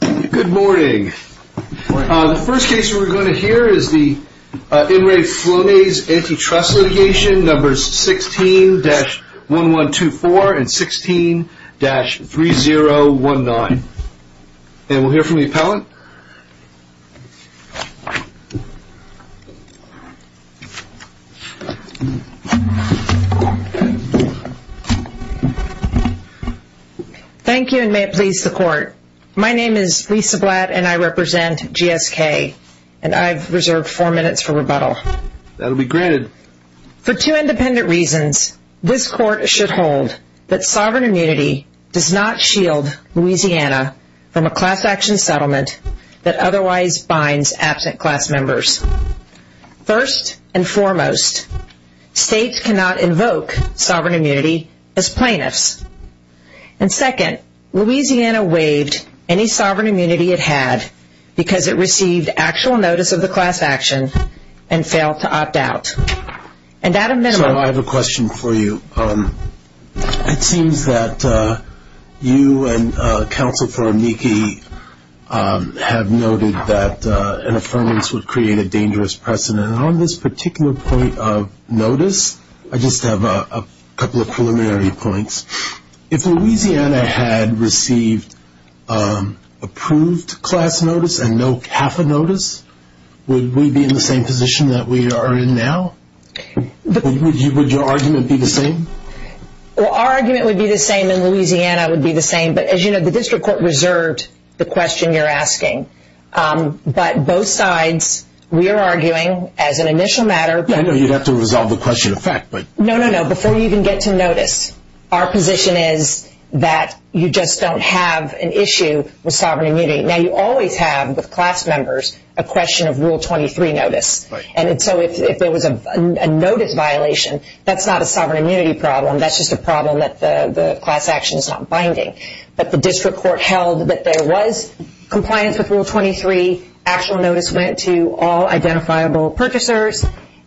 Good morning. The first case we're going to hear is the In Re Flonase Antitrust litigation numbers 16-1124 and 16-3019 and we'll hear from the court. My name is Lisa Blatt and I represent GSK and I've reserved four minutes for rebuttal. That will be granted. For two independent reasons, this court should hold that sovereign immunity does not shield Louisiana from a class action settlement that otherwise binds absent class members. First and foremost, states cannot invoke sovereign immunity as sovereign immunity it had because it received actual notice of the class action and failed to opt out. And at a minimum... So I have a question for you. It seems that you and Counsel for Amici have noted that an affirmance would create a dangerous precedent. On this particular point of notice, I just have a couple of preliminary points. If Louisiana had received approved class notice and no half a notice, would we be in the same position that we are in now? Would your argument be the same? Well, our argument would be the same and Louisiana would be the same, but as you know, the district court reserved the question you're asking. But both sides, we are arguing as an initial matter... I know you'd have to resolve the question of fact, but... No, no, no. Before you even get to notice, our position is that you just don't have an issue with sovereign immunity. Now, you always have, with class members, a question of Rule 23 notice. And so if there was a notice violation, that's not a sovereign immunity problem. That's just a problem that the class action is not binding. But the district court held that there was compliance with Rule 23, actual notice went to all identifiable purchasers,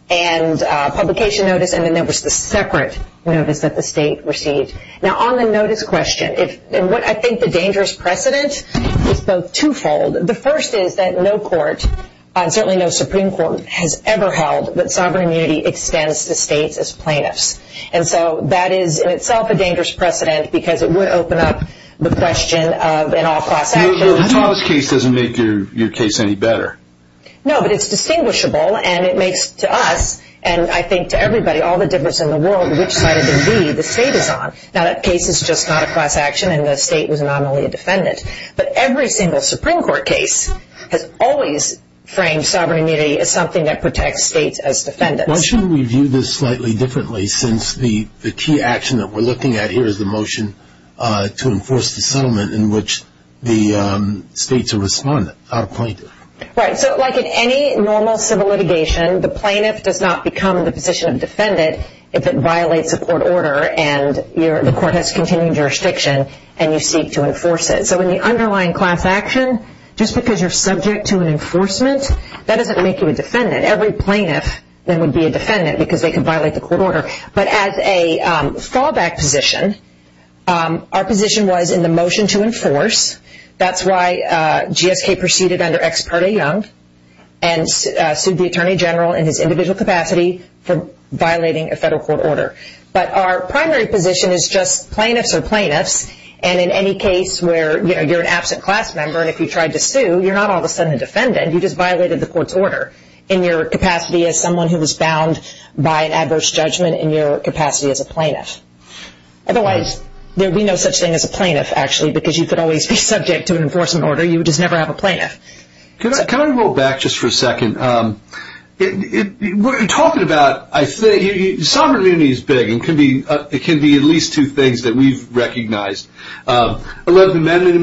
and publication notice, and then there was the separate notice that the state received. Now, on the notice question, I think the dangerous precedent is both twofold. The first is that no court, certainly no Supreme Court, has ever held that sovereign immunity extends to states as plaintiffs. And so that is in itself a dangerous precedent because it would open up the question of an all-class action. The Thomas case doesn't make your case any better. No, but it's distinguishable, and it makes to us, and I think to everybody, all the difference in the world, which side of the league the state is on. Now, that case is just not a class action, and the state was nominally a defendant. But every single Supreme Court case has always framed sovereign immunity as something that protects states as defendants. Why shouldn't we view this slightly differently, since the key action that we're looking at here is the motion to enforce the settlement in which the states are responding? Right, so like in any normal civil litigation, the plaintiff does not become the position of defendant if it violates a court order, and the court has continued jurisdiction, and you seek to enforce it. So in the underlying class action, just because you're subject to an enforcement, that doesn't make you a defendant. Every plaintiff then would be But as a fallback position, our position was in the motion to enforce. That's why GSK proceeded under Ex parte Young, and sued the Attorney General in his individual capacity for violating a federal court order. But our primary position is just plaintiffs are plaintiffs, and in any case where you're an absent class member, and if you tried to sue, you're not all of a sudden a defendant. You just violated the court's order in your capacity as someone who was bound by an adverse judgment in your capacity as a plaintiff. Otherwise, there would be no such thing as a plaintiff, actually, because you could always be subject to an enforcement order. You would just never have a plaintiff. Can I roll back just for a second? What you're talking about, I think, sovereign immunity is big, and it can be at least two things that we've recognized. Eleventh Amendment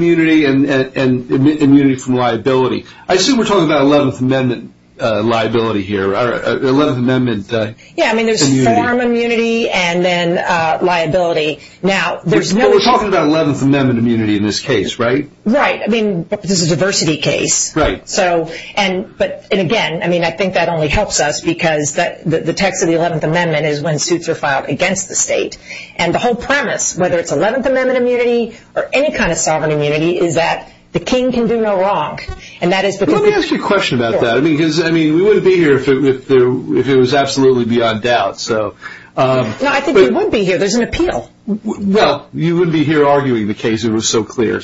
Yeah, I mean, there's form immunity and then liability. Now, there's no But we're talking about Eleventh Amendment immunity in this case, right? Right. I mean, this is a diversity case. Right. And again, I mean, I think that only helps us because the text of the Eleventh Amendment is when suits are filed against the state. And the whole premise, whether it's Eleventh Amendment immunity or any kind of sovereign immunity, is that the king can do no wrong. Let me ask you a question about that, because, I mean, we wouldn't be here if it was absolutely beyond doubt. No, I think you would be here. There's an appeal. Well, you wouldn't be here arguing the case. It was so clear.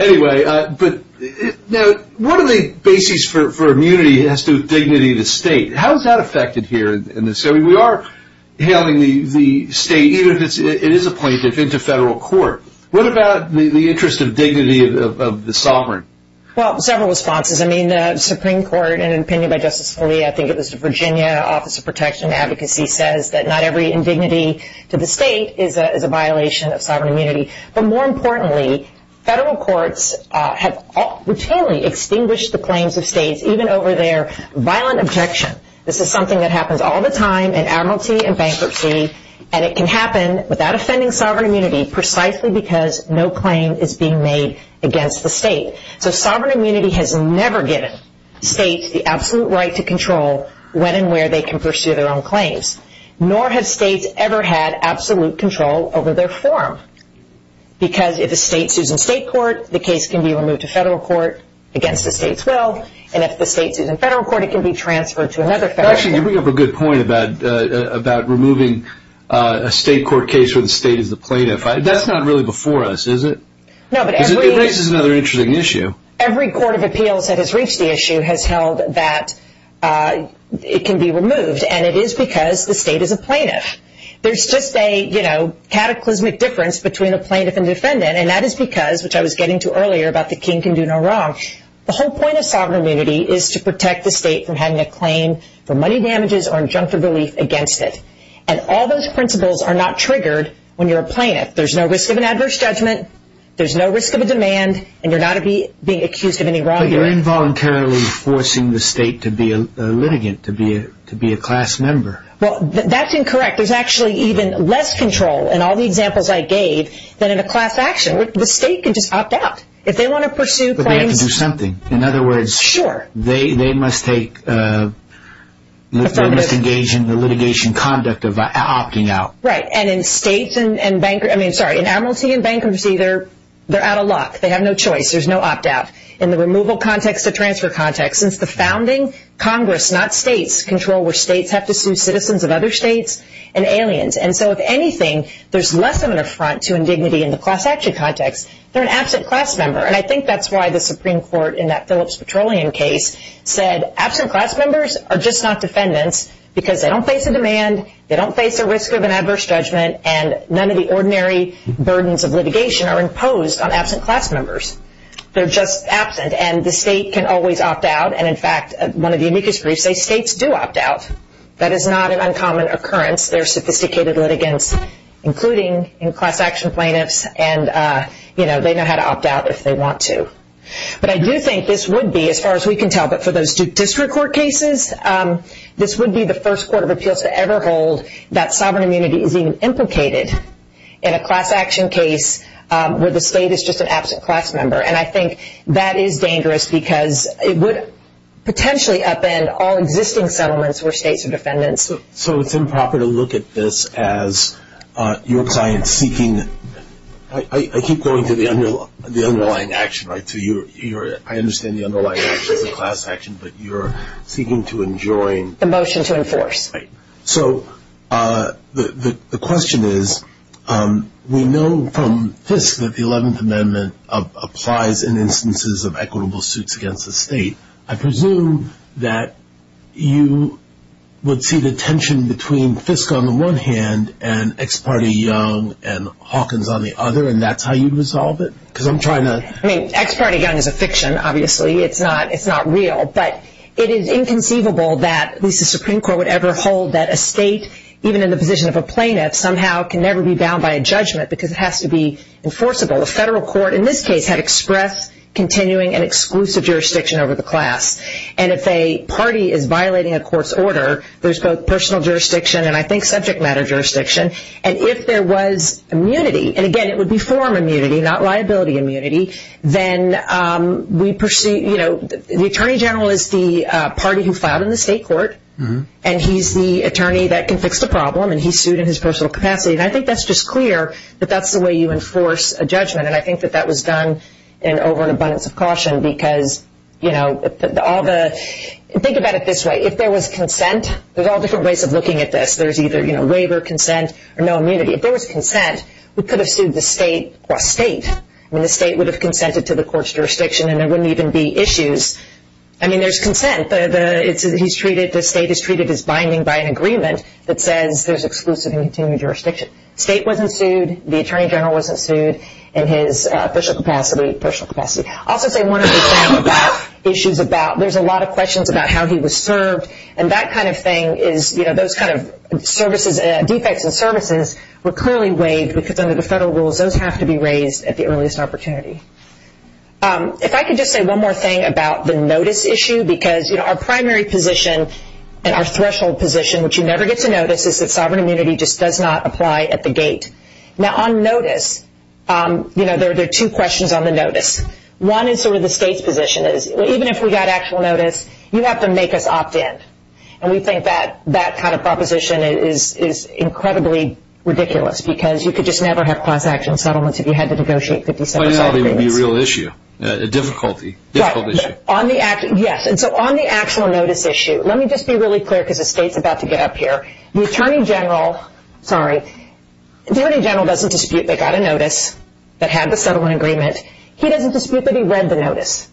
Anyway, now, what are the bases for immunity as to dignity of the state? How is that affected here in this? I mean, we are hailing the state, even if it is a plaintiff, into federal court. What about the interest of dignity of the sovereign? Well, several responses. I mean, the Supreme Court, in an opinion by Justice Scalia, I think it was the Virginia Office of Protection and Advocacy, says that not every indignity to the state is a violation of sovereign immunity. But more importantly, federal courts have routinely extinguished the claims of states, even over their violent objection. This is something that happens all the time in amnesty and bankruptcy, and it can happen without offending sovereign immunity, precisely because no claim is being made against the state. So, sovereign immunity has never given states the absolute right to control when and where they can pursue their own claims, nor have states ever had absolute control over their form, because if a state sues in state court, the case can be removed to federal court against the state's will, and if the state sues in federal court, it can be transferred to another federal court. Actually, you bring up a good point about removing a state court case where the state is the plaintiff. That's not really before us, is it? It raises another interesting issue. Every court of appeals that has reached the issue has held that it can be removed, and it is because the state is a plaintiff. There's just a cataclysmic difference between a plaintiff and defendant, and that is because, which I was getting to earlier about the king can do no wrong, the whole point of sovereign immunity is to protect the state from having a claim for money damages or injunctive relief against it. And all those principles are not triggered when you're a plaintiff. There's no risk of an adverse judgment, there's no risk of a demand, and you're not being accused of any wrongdoing. But you're involuntarily forcing the state to be a litigant, to be a class member. Well, that's incorrect. There's actually even less control, in all the examples I gave, than in a class action. The state can just opt out if they want to pursue claims. But they have to do something. Sure. They must take the litigation conduct of opting out. Right. And in states and bankruptcy, they're out of luck. They have no choice. There's no opt-out. In the removal context, the transfer context, since the founding, Congress, not states, control where states have to sue citizens of other states and aliens. And so if anything, there's less of an affront to indignity in the class action context. They're an absent class member. And I think that's why the Supreme Court, in that Phillips Petroleum case, said absent class members are just not defendants because they don't face a demand, they don't face a risk of an adverse judgment, and none of the ordinary burdens of litigation are imposed on absent class members. They're just absent. And the state can always opt out. And in fact, one of the amicus griefs, states do opt out. That is not an uncommon occurrence. There are sophisticated litigants, including in class action plaintiffs, and they know how to opt out if they want to. But I do think this would be, as far as we can tell, but for those district court cases, this would be the first court of appeals to ever hold that sovereign immunity is even implicated in a class action case where the state is just an absent class member. And I think that is dangerous because it would potentially upend all existing settlements where states are defendants. So it's improper to look at this as your client seeking, I keep going to the underlying action, right, to your, I understand the underlying action is a class action, but you're seeking to enjoin. The motion to enforce. Right. So the question is, we know from FISC that the 11th Amendment applies in instances of equitable suits against the state. I presume that you would see the tension between FISC on the one hand and Ex parte Young and Hawkins on the other, and that's how you'd resolve it? I mean, Ex parte Young is a fiction, obviously. It's not real. But it is inconceivable that at least the Supreme Court would ever hold that a state, even in the position of a plaintiff, somehow can never be bound by a judgment because it has to be enforceable. A federal court in this case had express, continuing, and exclusive jurisdiction over the class. And if a party is violating a court's order, there's both personal jurisdiction and I think subject matter jurisdiction. And if there was immunity, and again, it would be form immunity, not liability immunity, then we pursue, you know, the Attorney General is the party who filed in the state court, and he's the attorney that can fix the problem, and he's sued in his personal capacity. And I think that's just clear that that's the way you enforce a judgment, and I think that that was done over an abundance of caution because, you know, all the, think about it this way. If there was consent, there's all different ways of looking at this. There's either, you know, waiver, consent, or no immunity. If there was consent, we could have sued the state. I mean, the state would have consented to the court's jurisdiction and there wouldn't even be issues. I mean, there's consent. The state is treated as binding by an agreement that says there's exclusive and continued jurisdiction. State wasn't sued, the Attorney General wasn't sued, and his personal capacity, personal capacity. I'll also say one of the issues about, there's a lot of questions about how he was served, and that kind of thing is, you know, those kind of services, defects in services were clearly waived because under the federal rules, those have to be raised at the earliest opportunity. If I could just say one more thing about the notice issue because, you know, our primary position and our threshold position, which you never get to notice, is that sovereign immunity just does not apply at the gate. Now, on notice, you know, there are two questions on the notice. One is sort of the state's position is, even if we got actual notice, you have to make us opt in. And we think that that kind of proposition is incredibly ridiculous because you could just never have class action settlements if you had to negotiate 57-side agreements. But it would be a real issue, a difficulty, difficult issue. Yes, and so on the actual notice issue, let me just be really clear because the state's about to get up here. The Attorney General, sorry, the Attorney General doesn't dispute they got a notice that had the settlement agreement. He doesn't dispute that he read the notice.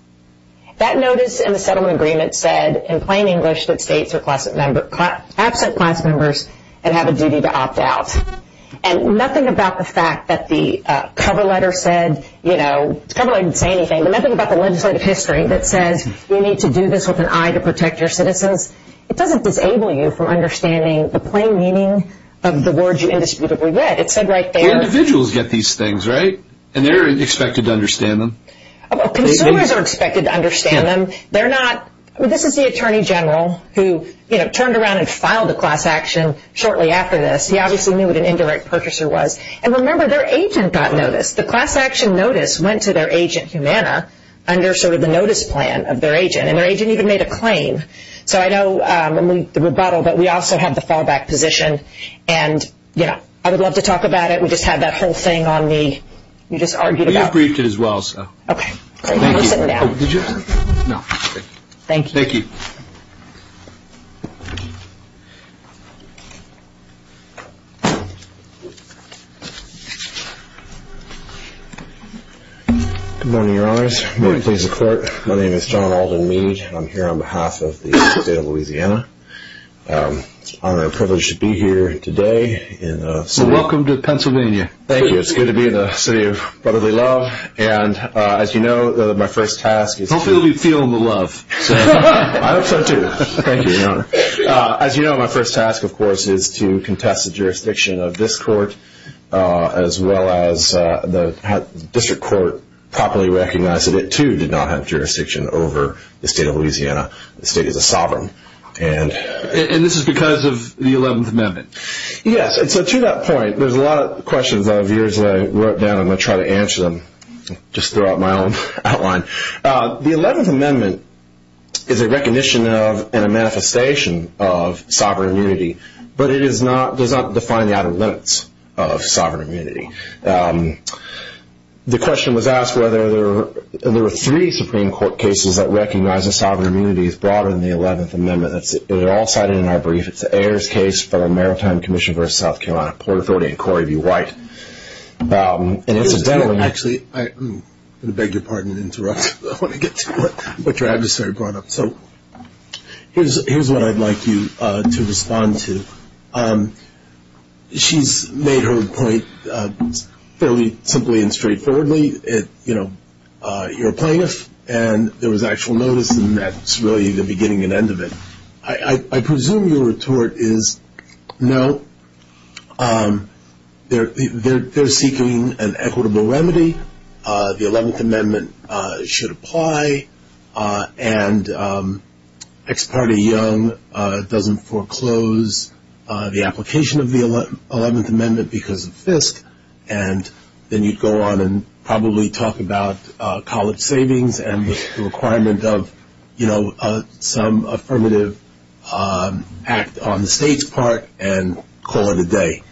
That notice in the settlement agreement said in plain English that states are absent class members and have a duty to opt out. And nothing about the fact that the cover letter said, you know, the cover letter didn't say anything, and nothing about the legislative history that says you need to do this with an eye to protect your citizens. It doesn't disable you from understanding the plain meaning of the words you indisputably read. It said right there. Individuals get these things, right? And they're expected to understand them. Consumers are expected to understand them. They're not. I mean, this is the Attorney General who, you know, turned around and filed a class action shortly after this. He obviously knew what an indirect purchaser was. And remember, their agent got notice. The class action notice went to their agent, Humana, under sort of the notice plan of their agent. And their agent even made a claim. So I know the rebuttal, but we also have the fallback position. And, you know, I would love to talk about it. We just had that whole thing on the, you just argued about. We have briefed it as well, so. Okay. Thank you. Thank you. Thank you. Good morning, Your Honors. Good morning. My name is John Alden Mead. I'm here on behalf of the state of Louisiana. I'm privileged to be here today. Welcome to Pennsylvania. Thank you. It's good to be in the city of brotherly love. And, as you know, my first task is to I hope so, too. Thank you, Your Honor. As you know, my first task, of course, is to contest the jurisdiction of this court, as well as the district court properly recognized that it, too, did not have jurisdiction over the state of Louisiana. The state is a sovereign. And this is because of the 11th Amendment. Yes. And so to that point, there's a lot of questions out of years that I wrote down. I'm going to try to answer them. Just throw out my own outline. The 11th Amendment is a recognition of and a manifestation of sovereign immunity, but it does not define the outer limits of sovereign immunity. The question was asked whether there were three Supreme Court cases that recognize that sovereign immunity is broader than the 11th Amendment. They're all cited in our brief. It's the Ayers case, Federal Maritime Commission v. South Carolina Port Authority, and Corey v. White. Actually, I'm going to beg your pardon and interrupt. I want to get to what your adversary brought up. So here's what I'd like you to respond to. She's made her point fairly simply and straightforwardly. You're a plaintiff, and there was actual notice, and that's really the beginning and end of it. I presume your retort is, no, they're seeking an equitable remedy. The 11th Amendment should apply, and Ex parte Young doesn't foreclose the application of the 11th Amendment because of FISC, and then you'd go on and probably talk about college savings and the requirement of some affirmative act on the state's part and call it a day.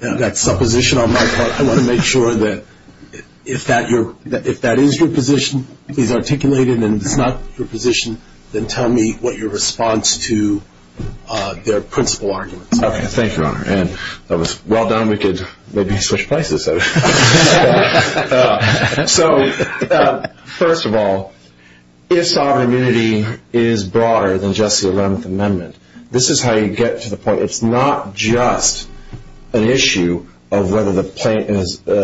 That's supposition on my part. I want to make sure that if that is your position, if he's articulated and it's not your position, then tell me what your response to their principal arguments are. Thank you, Your Honor. If that was well done, we could maybe switch places. So first of all, if sovereign immunity is broader than just the 11th Amendment, this is how you get to the point. It's not just an issue of whether the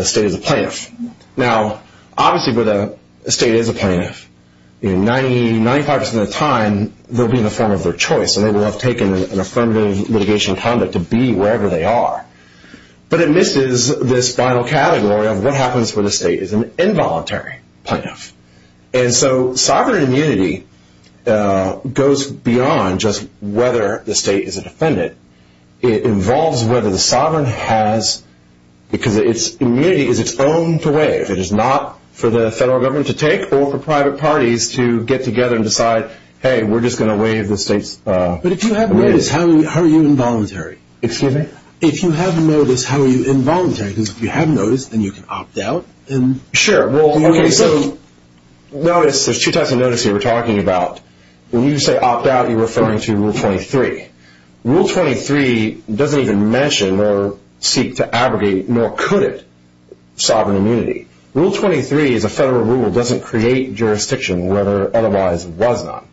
state is a plaintiff. Now, obviously, if the state is a plaintiff, 95% of the time they'll be in the form of their choice, and they will have taken an affirmative litigation conduct to be wherever they are. But it misses this final category of what happens when the state is an involuntary plaintiff. And so sovereign immunity goes beyond just whether the state is a defendant. It involves whether the sovereign has, because immunity is its own to waive. It is not for the federal government to take or for private parties to get together and decide, hey, we're just going to waive the state's immunity. But if you have notice, how are you involuntary? Excuse me? If you have notice, how are you involuntary? Because if you have notice, then you can opt out. Sure. Well, okay, so notice, there's two types of notice here we're talking about. When you say opt out, you're referring to Rule 23. Rule 23 doesn't even mention or seek to abrogate, nor could it, sovereign immunity. Rule 23 is a federal rule. It doesn't create jurisdiction where otherwise it was not.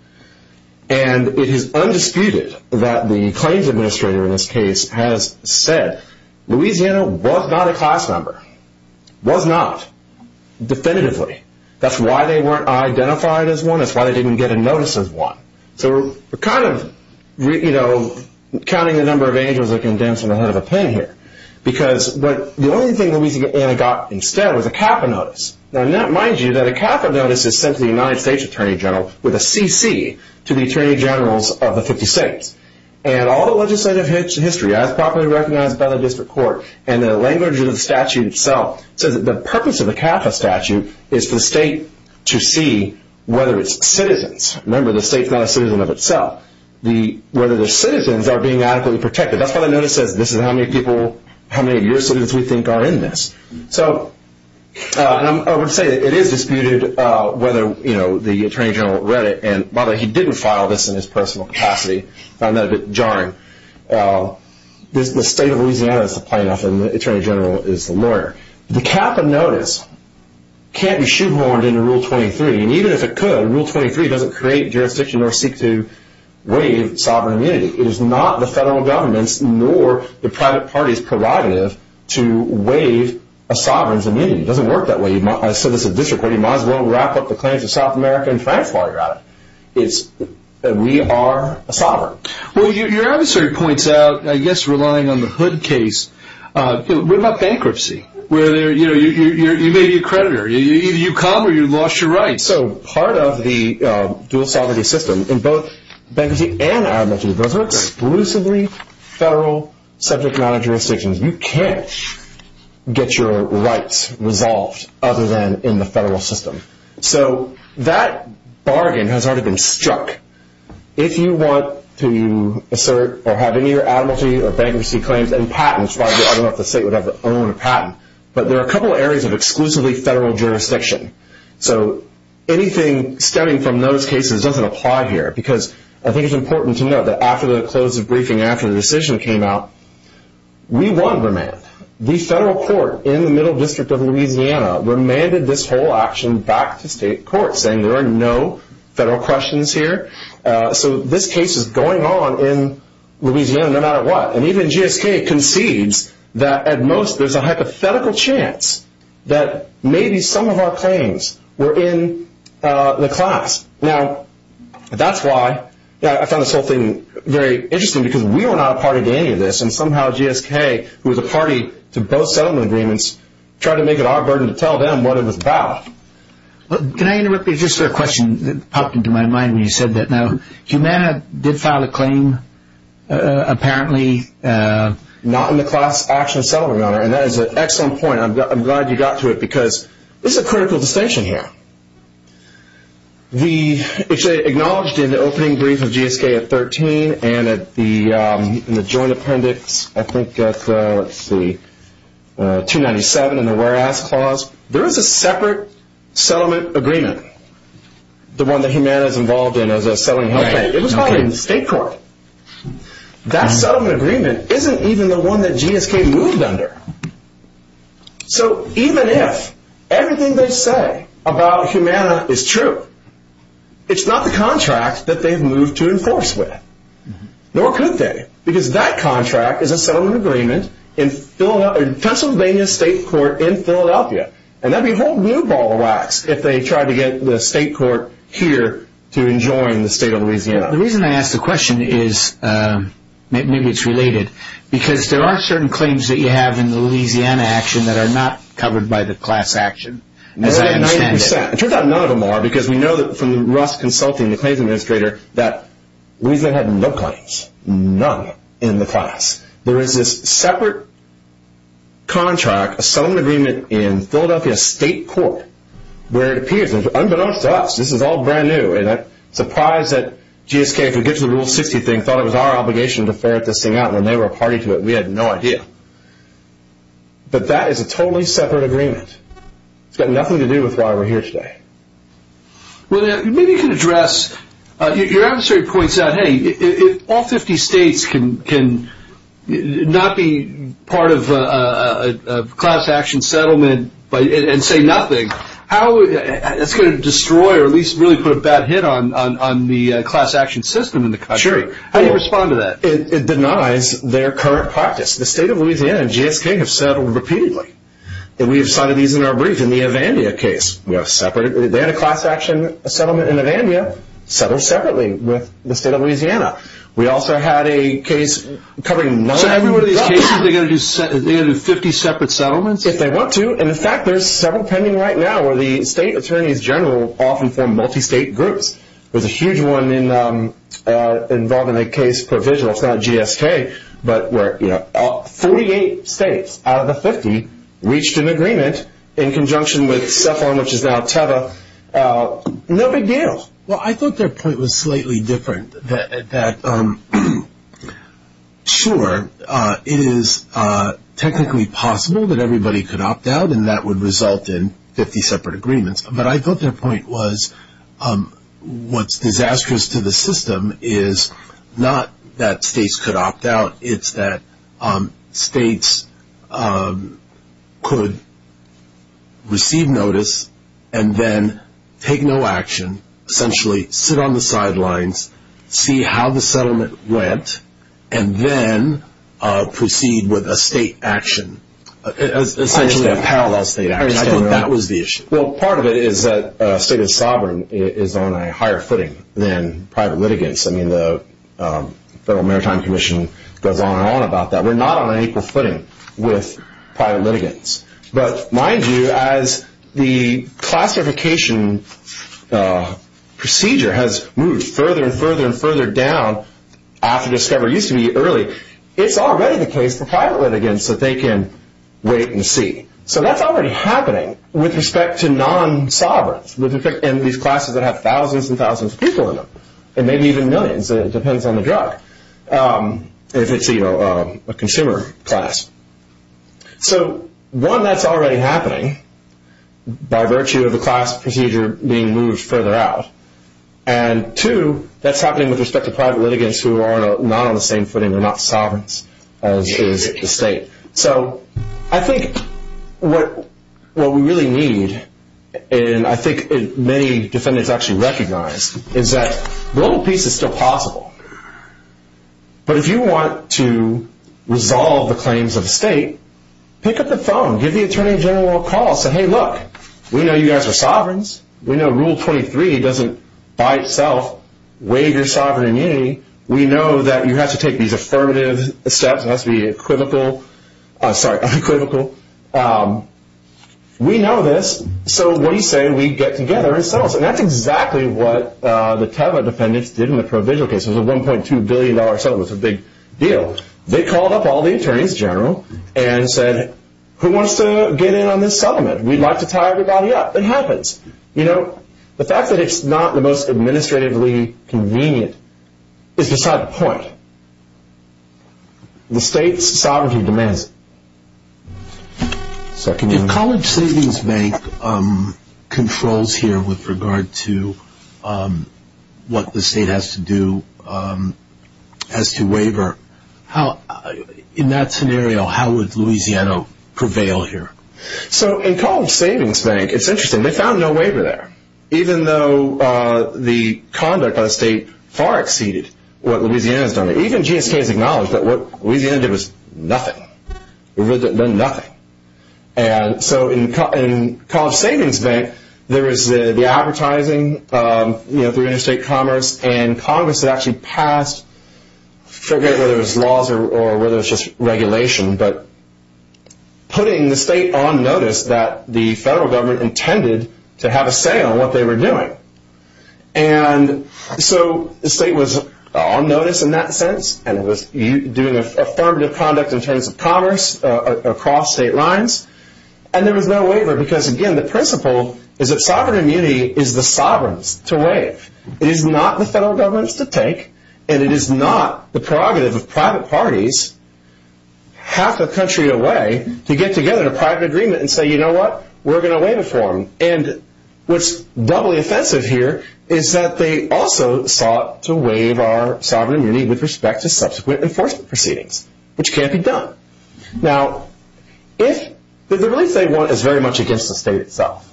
And it is undisputed that the claims administrator in this case has said, Louisiana was not a class number, was not, definitively. That's why they weren't identified as one. That's why they didn't get a notice as one. So we're kind of counting the number of angels that can dance in front of a pen here. Because the only thing Louisiana got instead was a CAFA notice. Now, mind you, that a CAFA notice is sent to the United States Attorney General with a CC to the Attorney Generals of the 50 states. And all the legislative history as properly recognized by the district court and the language of the statute itself says that the purpose of the CAFA statute is for the state to see whether it's citizens. Remember, the state's not a citizen of itself. Whether the citizens are being adequately protected. That's why the notice says this is how many people, how many of your citizens we think are in this. So I would say it is disputed whether the Attorney General read it and whether he didn't file this in his personal capacity. I found that a bit jarring. The state of Louisiana is the plaintiff and the Attorney General is the lawyer. The CAFA notice can't be shoehorned into Rule 23. And even if it could, Rule 23 doesn't create jurisdiction or seek to waive sovereign immunity. It is not the federal government's nor the private party's prerogative to waive a sovereign's immunity. It doesn't work that way. I said this at the district court. You might as well wrap up the claims of South America and France while you're at it. We are a sovereign. Well, your adversary points out, I guess relying on the Hood case, what about bankruptcy? You may be a creditor. Either you come or you've lost your rights. So part of the dual-sovereignty system in both bankruptcy and adamantia is those are exclusively federal subject matter jurisdictions. You can't get your rights resolved other than in the federal system. So that bargain has already been struck. If you want to assert or have any of your adamantia or bankruptcy claims and patents, I don't know if the state would ever own a patent, but there are a couple of areas of exclusively federal jurisdiction. So anything stemming from those cases doesn't apply here because I think it's important to note that after the close of briefing, after the decision came out, we won remand. The federal court in the Middle District of Louisiana remanded this whole action back to state courts saying there are no federal questions here. So this case is going on in Louisiana no matter what. And even GSK concedes that at most there's a hypothetical chance that maybe some of our claims were in the class. Now, that's why I found this whole thing very interesting because we were not a party to any of this, and somehow GSK, who was a party to both settlement agreements, tried to make it our burden to tell them what it was about. Can I interrupt you just for a question that popped into my mind when you said that? Now, Humana did file a claim, apparently. Not in the class action settlement matter, and that is an excellent point. And I'm glad you got to it because it's a critical distinction here. We actually acknowledged in the opening brief of GSK at 13 and in the joint appendix, I think that's 297 in the whereas clause, there is a separate settlement agreement, the one that Humana is involved in as a settling help. It was filed in the state court. That settlement agreement isn't even the one that GSK moved under. So even if everything they say about Humana is true, it's not the contract that they've moved to enforce with, nor could they, because that contract is a settlement agreement in Pennsylvania State Court in Philadelphia. And that would be a whole new ball of wax if they tried to get the state court here to enjoin the state of Louisiana. The reason I ask the question is, maybe it's related, because there are certain claims that you have in the Louisiana action that are not covered by the class action, as I understand it. More than 90%. It turns out none of them are because we know from Russ consulting the claims administrator that Louisiana had no claims, none in the class. There is this separate contract, a settlement agreement in Philadelphia State Court, where it appears, unbeknownst to us, this is all brand new, and I'm surprised that GSK, if we get to the Rule 60 thing, thought it was our obligation to ferret this thing out when they were a party to it. We had no idea. But that is a totally separate agreement. It's got nothing to do with why we're here today. Maybe you can address, your adversary points out, hey, if all 50 states can not be part of a class action settlement and say nothing, that's going to destroy or at least really put a bad hit on the class action system in the country. Sure. How do you respond to that? It denies their current practice. The state of Louisiana and GSK have settled repeatedly. We have cited these in our brief in the Avandia case. They had a class action settlement in Avandia, settled separately with the state of Louisiana. We also had a case covering none of them. So every one of these cases they're going to do 50 separate settlements? If they want to. And, in fact, there's several pending right now where the state attorneys general often form multi-state groups. There's a huge one involving a case provisional. It's not GSK. But 48 states out of the 50 reached an agreement in conjunction with CEPHON, which is now TEVA. No big deal. Well, I thought their point was slightly different. Sure, it is technically possible that everybody could opt out, and that would result in 50 separate agreements. But I thought their point was what's disastrous to the system is not that states could opt out. It's that states could receive notice and then take no action, essentially sit on the sidelines, see how the settlement went, and then proceed with a state action, essentially a parallel state action. I thought that was the issue. Well, part of it is that a state of sovereign is on a higher footing than private litigants. I mean, the Federal Maritime Commission goes on and on about that. We're not on an equal footing with private litigants. But mind you, as the classification procedure has moved further and further and further down, after discovery used to be early, it's already the case for private litigants that they can wait and see. So that's already happening with respect to non-sovereigns and these classes that have thousands and thousands of people in them, and maybe even millions. It depends on the drug, if it's a consumer class. So one, that's already happening by virtue of the class procedure being moved further out. And two, that's happening with respect to private litigants who are not on the same footing or not sovereigns as is the state. So I think what we really need, and I think many defendants actually recognize, is that global peace is still possible. But if you want to resolve the claims of a state, pick up the phone. Give the Attorney General a call. Say, hey, look, we know you guys are sovereigns. We know Rule 23 doesn't by itself waive your sovereign immunity. We know that you have to take these affirmative steps. It has to be equivocal. Sorry, unequivocal. We know this, so what do you say we get together and settle this? And that's exactly what the Teva defendants did in the provisional case. It was a $1.2 billion settlement. It was a big deal. They called up all the attorneys general and said, who wants to get in on this settlement? We'd like to tie everybody up. It happens. The fact that it's not the most administratively convenient is beside the point. The state's sovereignty demands it. If College Savings Bank controls here with regard to what the state has to do as to waiver, in that scenario, how would Louisiana prevail here? In College Savings Bank, it's interesting, they found no waiver there, even though the conduct of the state far exceeded what Louisiana has done. Even GSK has acknowledged that what Louisiana did was nothing. It really did nothing. So in College Savings Bank, there was the advertising through interstate commerce, and Congress had actually passed, forget whether it was laws or whether it was just regulation, but putting the state on notice that the federal government intended to have a say on what they were doing. So the state was on notice in that sense, and it was doing affirmative conduct in terms of commerce across state lines, and there was no waiver because, again, the principle is that sovereign immunity is the sovereign's to waive. It is not the federal government's to take, and it is not the prerogative of private parties half a country away to get together in a private agreement and say, you know what, we're going to waive it for them. And what's doubly offensive here is that they also sought to waive our sovereign immunity with respect to subsequent enforcement proceedings, which can't be done. Now, if the release they want is very much against the state itself,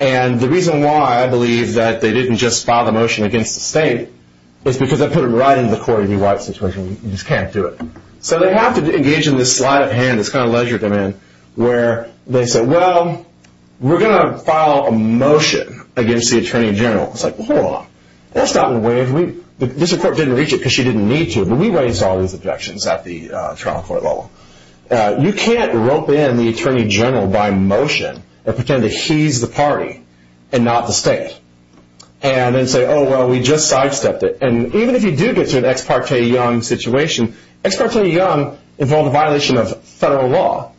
and the reason why I believe that they didn't just file the motion against the state is because that put them right into the Cory B. White situation. You just can't do it. So they have to engage in this sleight of hand, this kind of ledger demand, where they say, well, we're going to file a motion against the Attorney General. It's like, well, hold on. Let's not waive. This court didn't reach it because she didn't need to, but we raised all these objections at the trial court level. You can't rope in the Attorney General by motion and pretend that he's the party and not the state and then say, oh, well, we just sidestepped it. And even if you do get to an ex parte Young situation, ex parte Young involved a violation of federal law.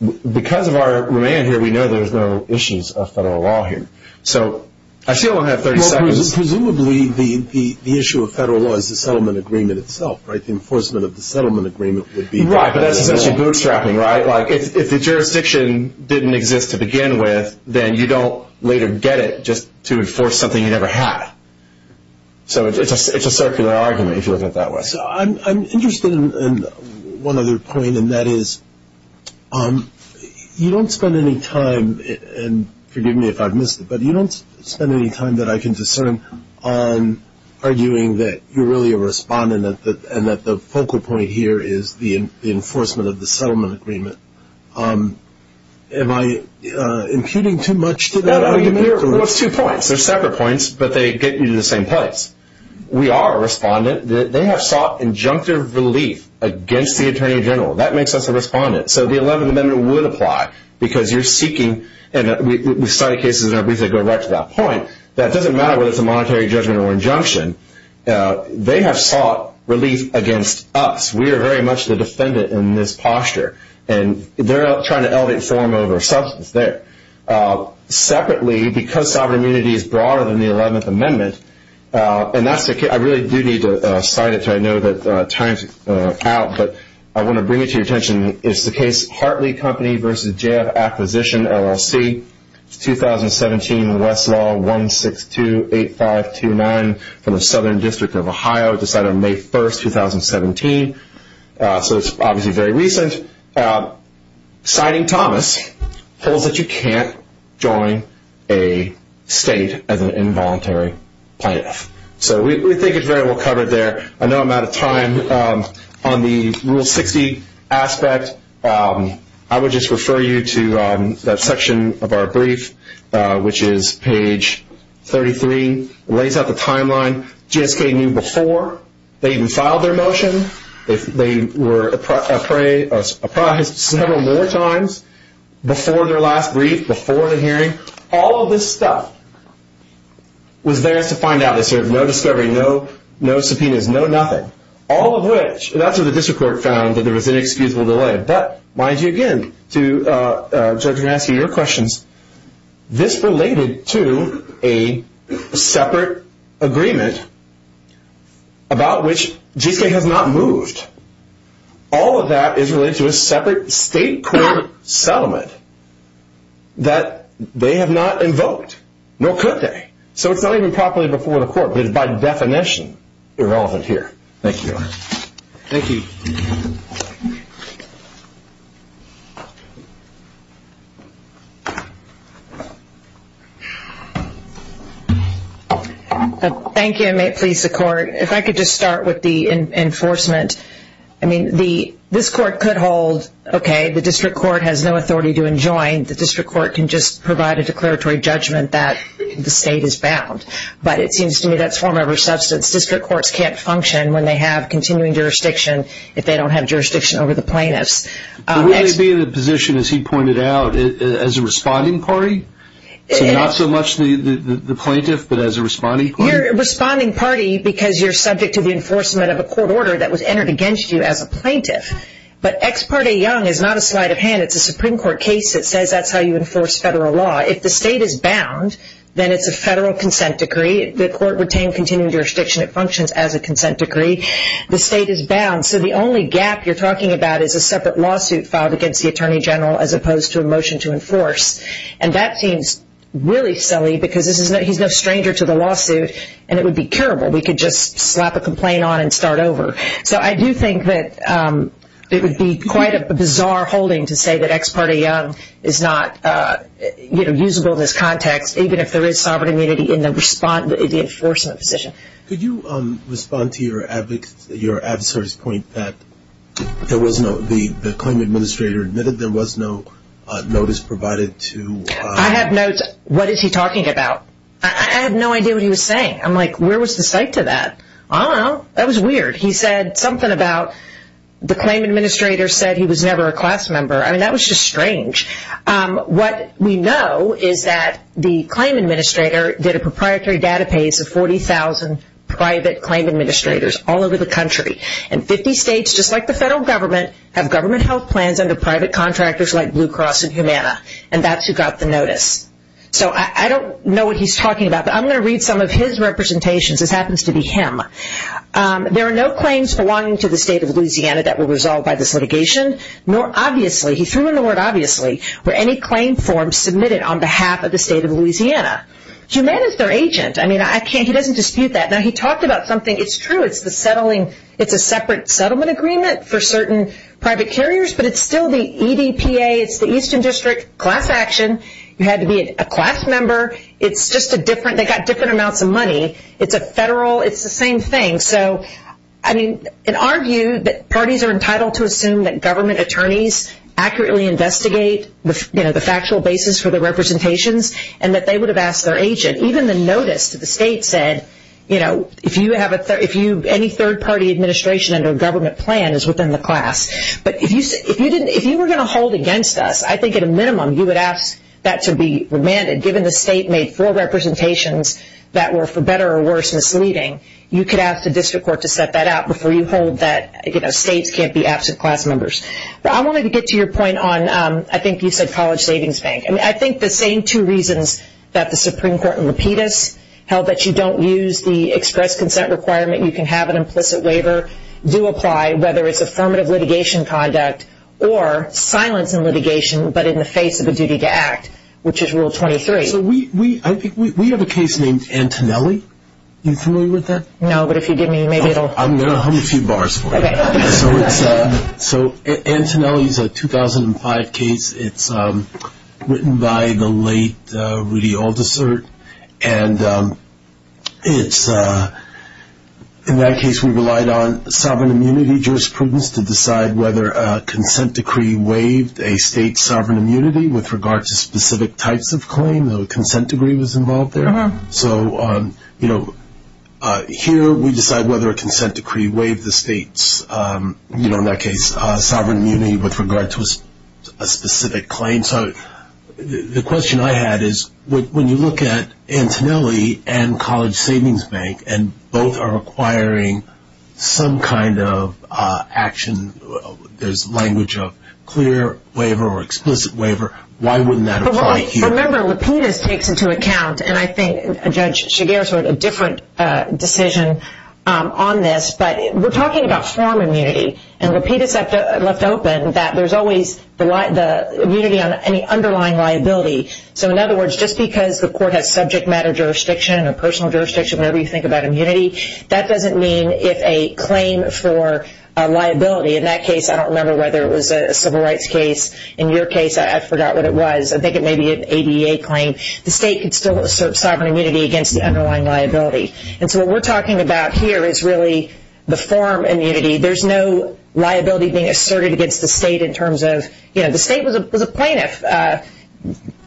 Because of our remand here, we know there's no issues of federal law here. So I still don't have 30 seconds. Presumably the issue of federal law is the settlement agreement itself, right? The enforcement of the settlement agreement would be. Right, but that's essentially bootstrapping, right? Like if the jurisdiction didn't exist to begin with, then you don't later get it just to enforce something you never had. So it's a circular argument if you look at it that way. So I'm interested in one other point, and that is you don't spend any time, and forgive me if I've missed it, but you don't spend any time that I can discern on arguing that you're really a respondent and that the focal point here is the enforcement of the settlement agreement. Am I impugning too much to that argument? Well, it's two points. They're separate points, but they get you to the same place. We are a respondent. They have sought injunctive relief against the Attorney General. That makes us a respondent. So the 11th Amendment would apply because you're seeking, and we cite cases in our briefs that go right to that point, that it doesn't matter whether it's a monetary judgment or injunction. They have sought relief against us. We are very much the defendant in this posture, and they're trying to elevate form over substance there. Separately, because sovereign immunity is broader than the 11th Amendment, and I really do need to cite it because I know that time is out, but I want to bring it to your attention. It's the case Hartley Company v. J.F. Acquisition, LLC. It's 2017, Westlaw 1628529 from the Southern District of Ohio. It was decided on May 1, 2017. So it's obviously very recent. Citing Thomas holds that you can't join a state as an involuntary plaintiff. So we think it's very well covered there. I know I'm out of time. On the Rule 60 aspect, I would just refer you to that section of our brief, which is page 33. It lays out the timeline. GSK knew before they even filed their motion. They were appraised several more times before their last brief, before the hearing. All of this stuff was theirs to find out. They served no discovery, no subpoenas, no nothing. All of which, that's what the district court found, that there was inexcusable delay. But mind you, again, to answer your questions, this related to a separate agreement about which GSK has not moved. All of that is related to a separate state court settlement that they have not invoked. Nor could they. So it's not even properly before the court, but it's by definition irrelevant here. Thank you. Thank you. Thank you. And may it please the court, if I could just start with the enforcement. I mean, this court could hold, okay, the district court has no authority to enjoin. The district court can just provide a declaratory judgment that the state is bound. But it seems to me that's form over substance. District courts can't function when they have continuing jurisdiction if they don't have jurisdiction over the plaintiffs. Will they be in a position, as he pointed out, as a responding party? So not so much the plaintiff, but as a responding party? You're a responding party because you're subject to the enforcement of a court order that was entered against you as a plaintiff. But Ex Parte Young is not a sleight of hand. It's a Supreme Court case that says that's how you enforce federal law. If the state is bound, then it's a federal consent decree. The court retained continuing jurisdiction. It functions as a consent decree. The state is bound. So the only gap you're talking about is a separate lawsuit filed against the attorney general as opposed to a motion to enforce. And that seems really silly because he's no stranger to the lawsuit, and it would be terrible. We could just slap a complaint on and start over. So I do think that it would be quite a bizarre holding to say that Ex Parte Young is not usable in this context, even if there is sovereign immunity in the enforcement position. Could you respond to your adversary's point that the claim administrator admitted there was no notice provided to? I have notes. What is he talking about? I have no idea what he was saying. I'm like, where was the cite to that? I don't know. That was weird. He said something about the claim administrator said he was never a class member. I mean, that was just strange. What we know is that the claim administrator did a proprietary database of 40,000 private claim administrators all over the country. And 50 states, just like the federal government, have government health plans under private contractors like Blue Cross and Humana, and that's who got the notice. So I don't know what he's talking about, but I'm going to read some of his representations. This happens to be him. There are no claims belonging to the state of Louisiana that were resolved by this litigation, nor obviously, he threw in the word obviously, were any claim forms submitted on behalf of the state of Louisiana. Humana is their agent. I mean, he doesn't dispute that. Now, he talked about something. It's true. It's the settling. It's a separate settlement agreement for certain private carriers, but it's still the EDPA. It's the Eastern District Class Action. You had to be a class member. It's just a different, they got different amounts of money. It's a federal, it's the same thing. So, I mean, in our view, parties are entitled to assume that government attorneys accurately investigate, you know, the factual basis for the representations and that they would have asked their agent. Even the notice to the state said, you know, if you have any third-party administration under a government plan is within the class. But if you were going to hold against us, I think at a minimum you would ask that to be remanded, given the state made four representations that were, for better or worse, misleading. You could ask the district court to set that out before you hold that, you know, states can't be absent class members. But I wanted to get to your point on, I think you said College Savings Bank. I think the same two reasons that the Supreme Court in Lapidus held that you don't use the express consent requirement, you can have an implicit waiver, do apply, whether it's affirmative litigation conduct or silence in litigation, but in the face of a duty to act, which is Rule 23. So we have a case named Antonelli. Are you familiar with that? No, but if you give me, maybe it will. I'm going to hum a few bars for you. Okay. So Antonelli is a 2005 case. It's written by the late Rudy Aldisert. And in that case we relied on sovereign immunity jurisprudence to decide whether a consent decree waived a state's claim, the consent decree was involved there. So, you know, here we decide whether a consent decree waived the state's, you know, in that case, sovereign immunity with regard to a specific claim. So the question I had is when you look at Antonelli and College Savings Bank and both are requiring some kind of action, there's language of clear waiver or explicit waiver, why wouldn't that apply here? Well, remember, Lapidus takes into account, and I think Judge Shigeru's wrote a different decision on this, but we're talking about form immunity. And Lapidus left open that there's always the immunity on any underlying liability. So in other words, just because the court has subject matter jurisdiction or personal jurisdiction, whatever you think about immunity, that doesn't mean if a claim for liability, in that case I don't remember whether it was a civil rights case. In your case, I forgot what it was. I think it may be an ADA claim. The state could still assert sovereign immunity against the underlying liability. And so what we're talking about here is really the form immunity. There's no liability being asserted against the state in terms of, you know, the state was a plaintiff.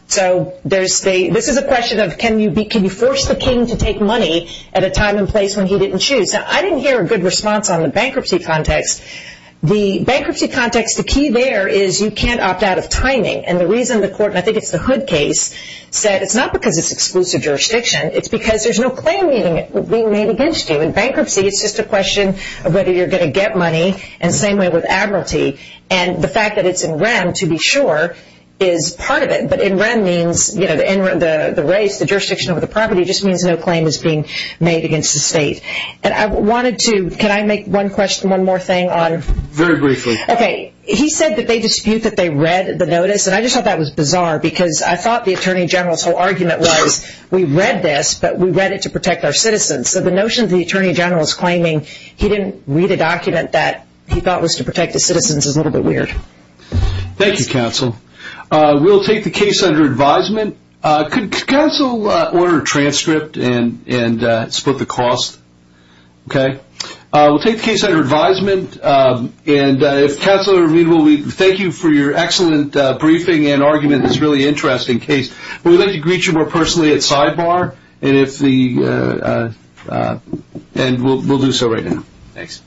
So this is a question of can you force the king to take money at a time and place when he didn't choose. Now, I didn't hear a good response on the bankruptcy context. The bankruptcy context, the key there is you can't opt out of timing. And the reason the court, and I think it's the Hood case, said it's not because it's exclusive jurisdiction. It's because there's no claim being made against you. In bankruptcy, it's just a question of whether you're going to get money, and same way with admiralty. And the fact that it's in REM, to be sure, is part of it. But in REM means, you know, the race, the jurisdiction over the property, just means no claim is being made against the state. And I wanted to, can I make one question, one more thing on? Very briefly. Okay. He said that they dispute that they read the notice. And I just thought that was bizarre because I thought the attorney general's whole argument was we read this, but we read it to protect our citizens. So the notion the attorney general is claiming he didn't read a document that he thought was to protect his citizens is a little bit weird. Thank you, counsel. We'll take the case under advisement. Could counsel order a transcript and split the cost? Okay. We'll take the case under advisement. And if counsel are readable, we thank you for your excellent briefing and argument in this really interesting case. We'd like to greet you more personally at sidebar, and we'll do so right now. Thanks.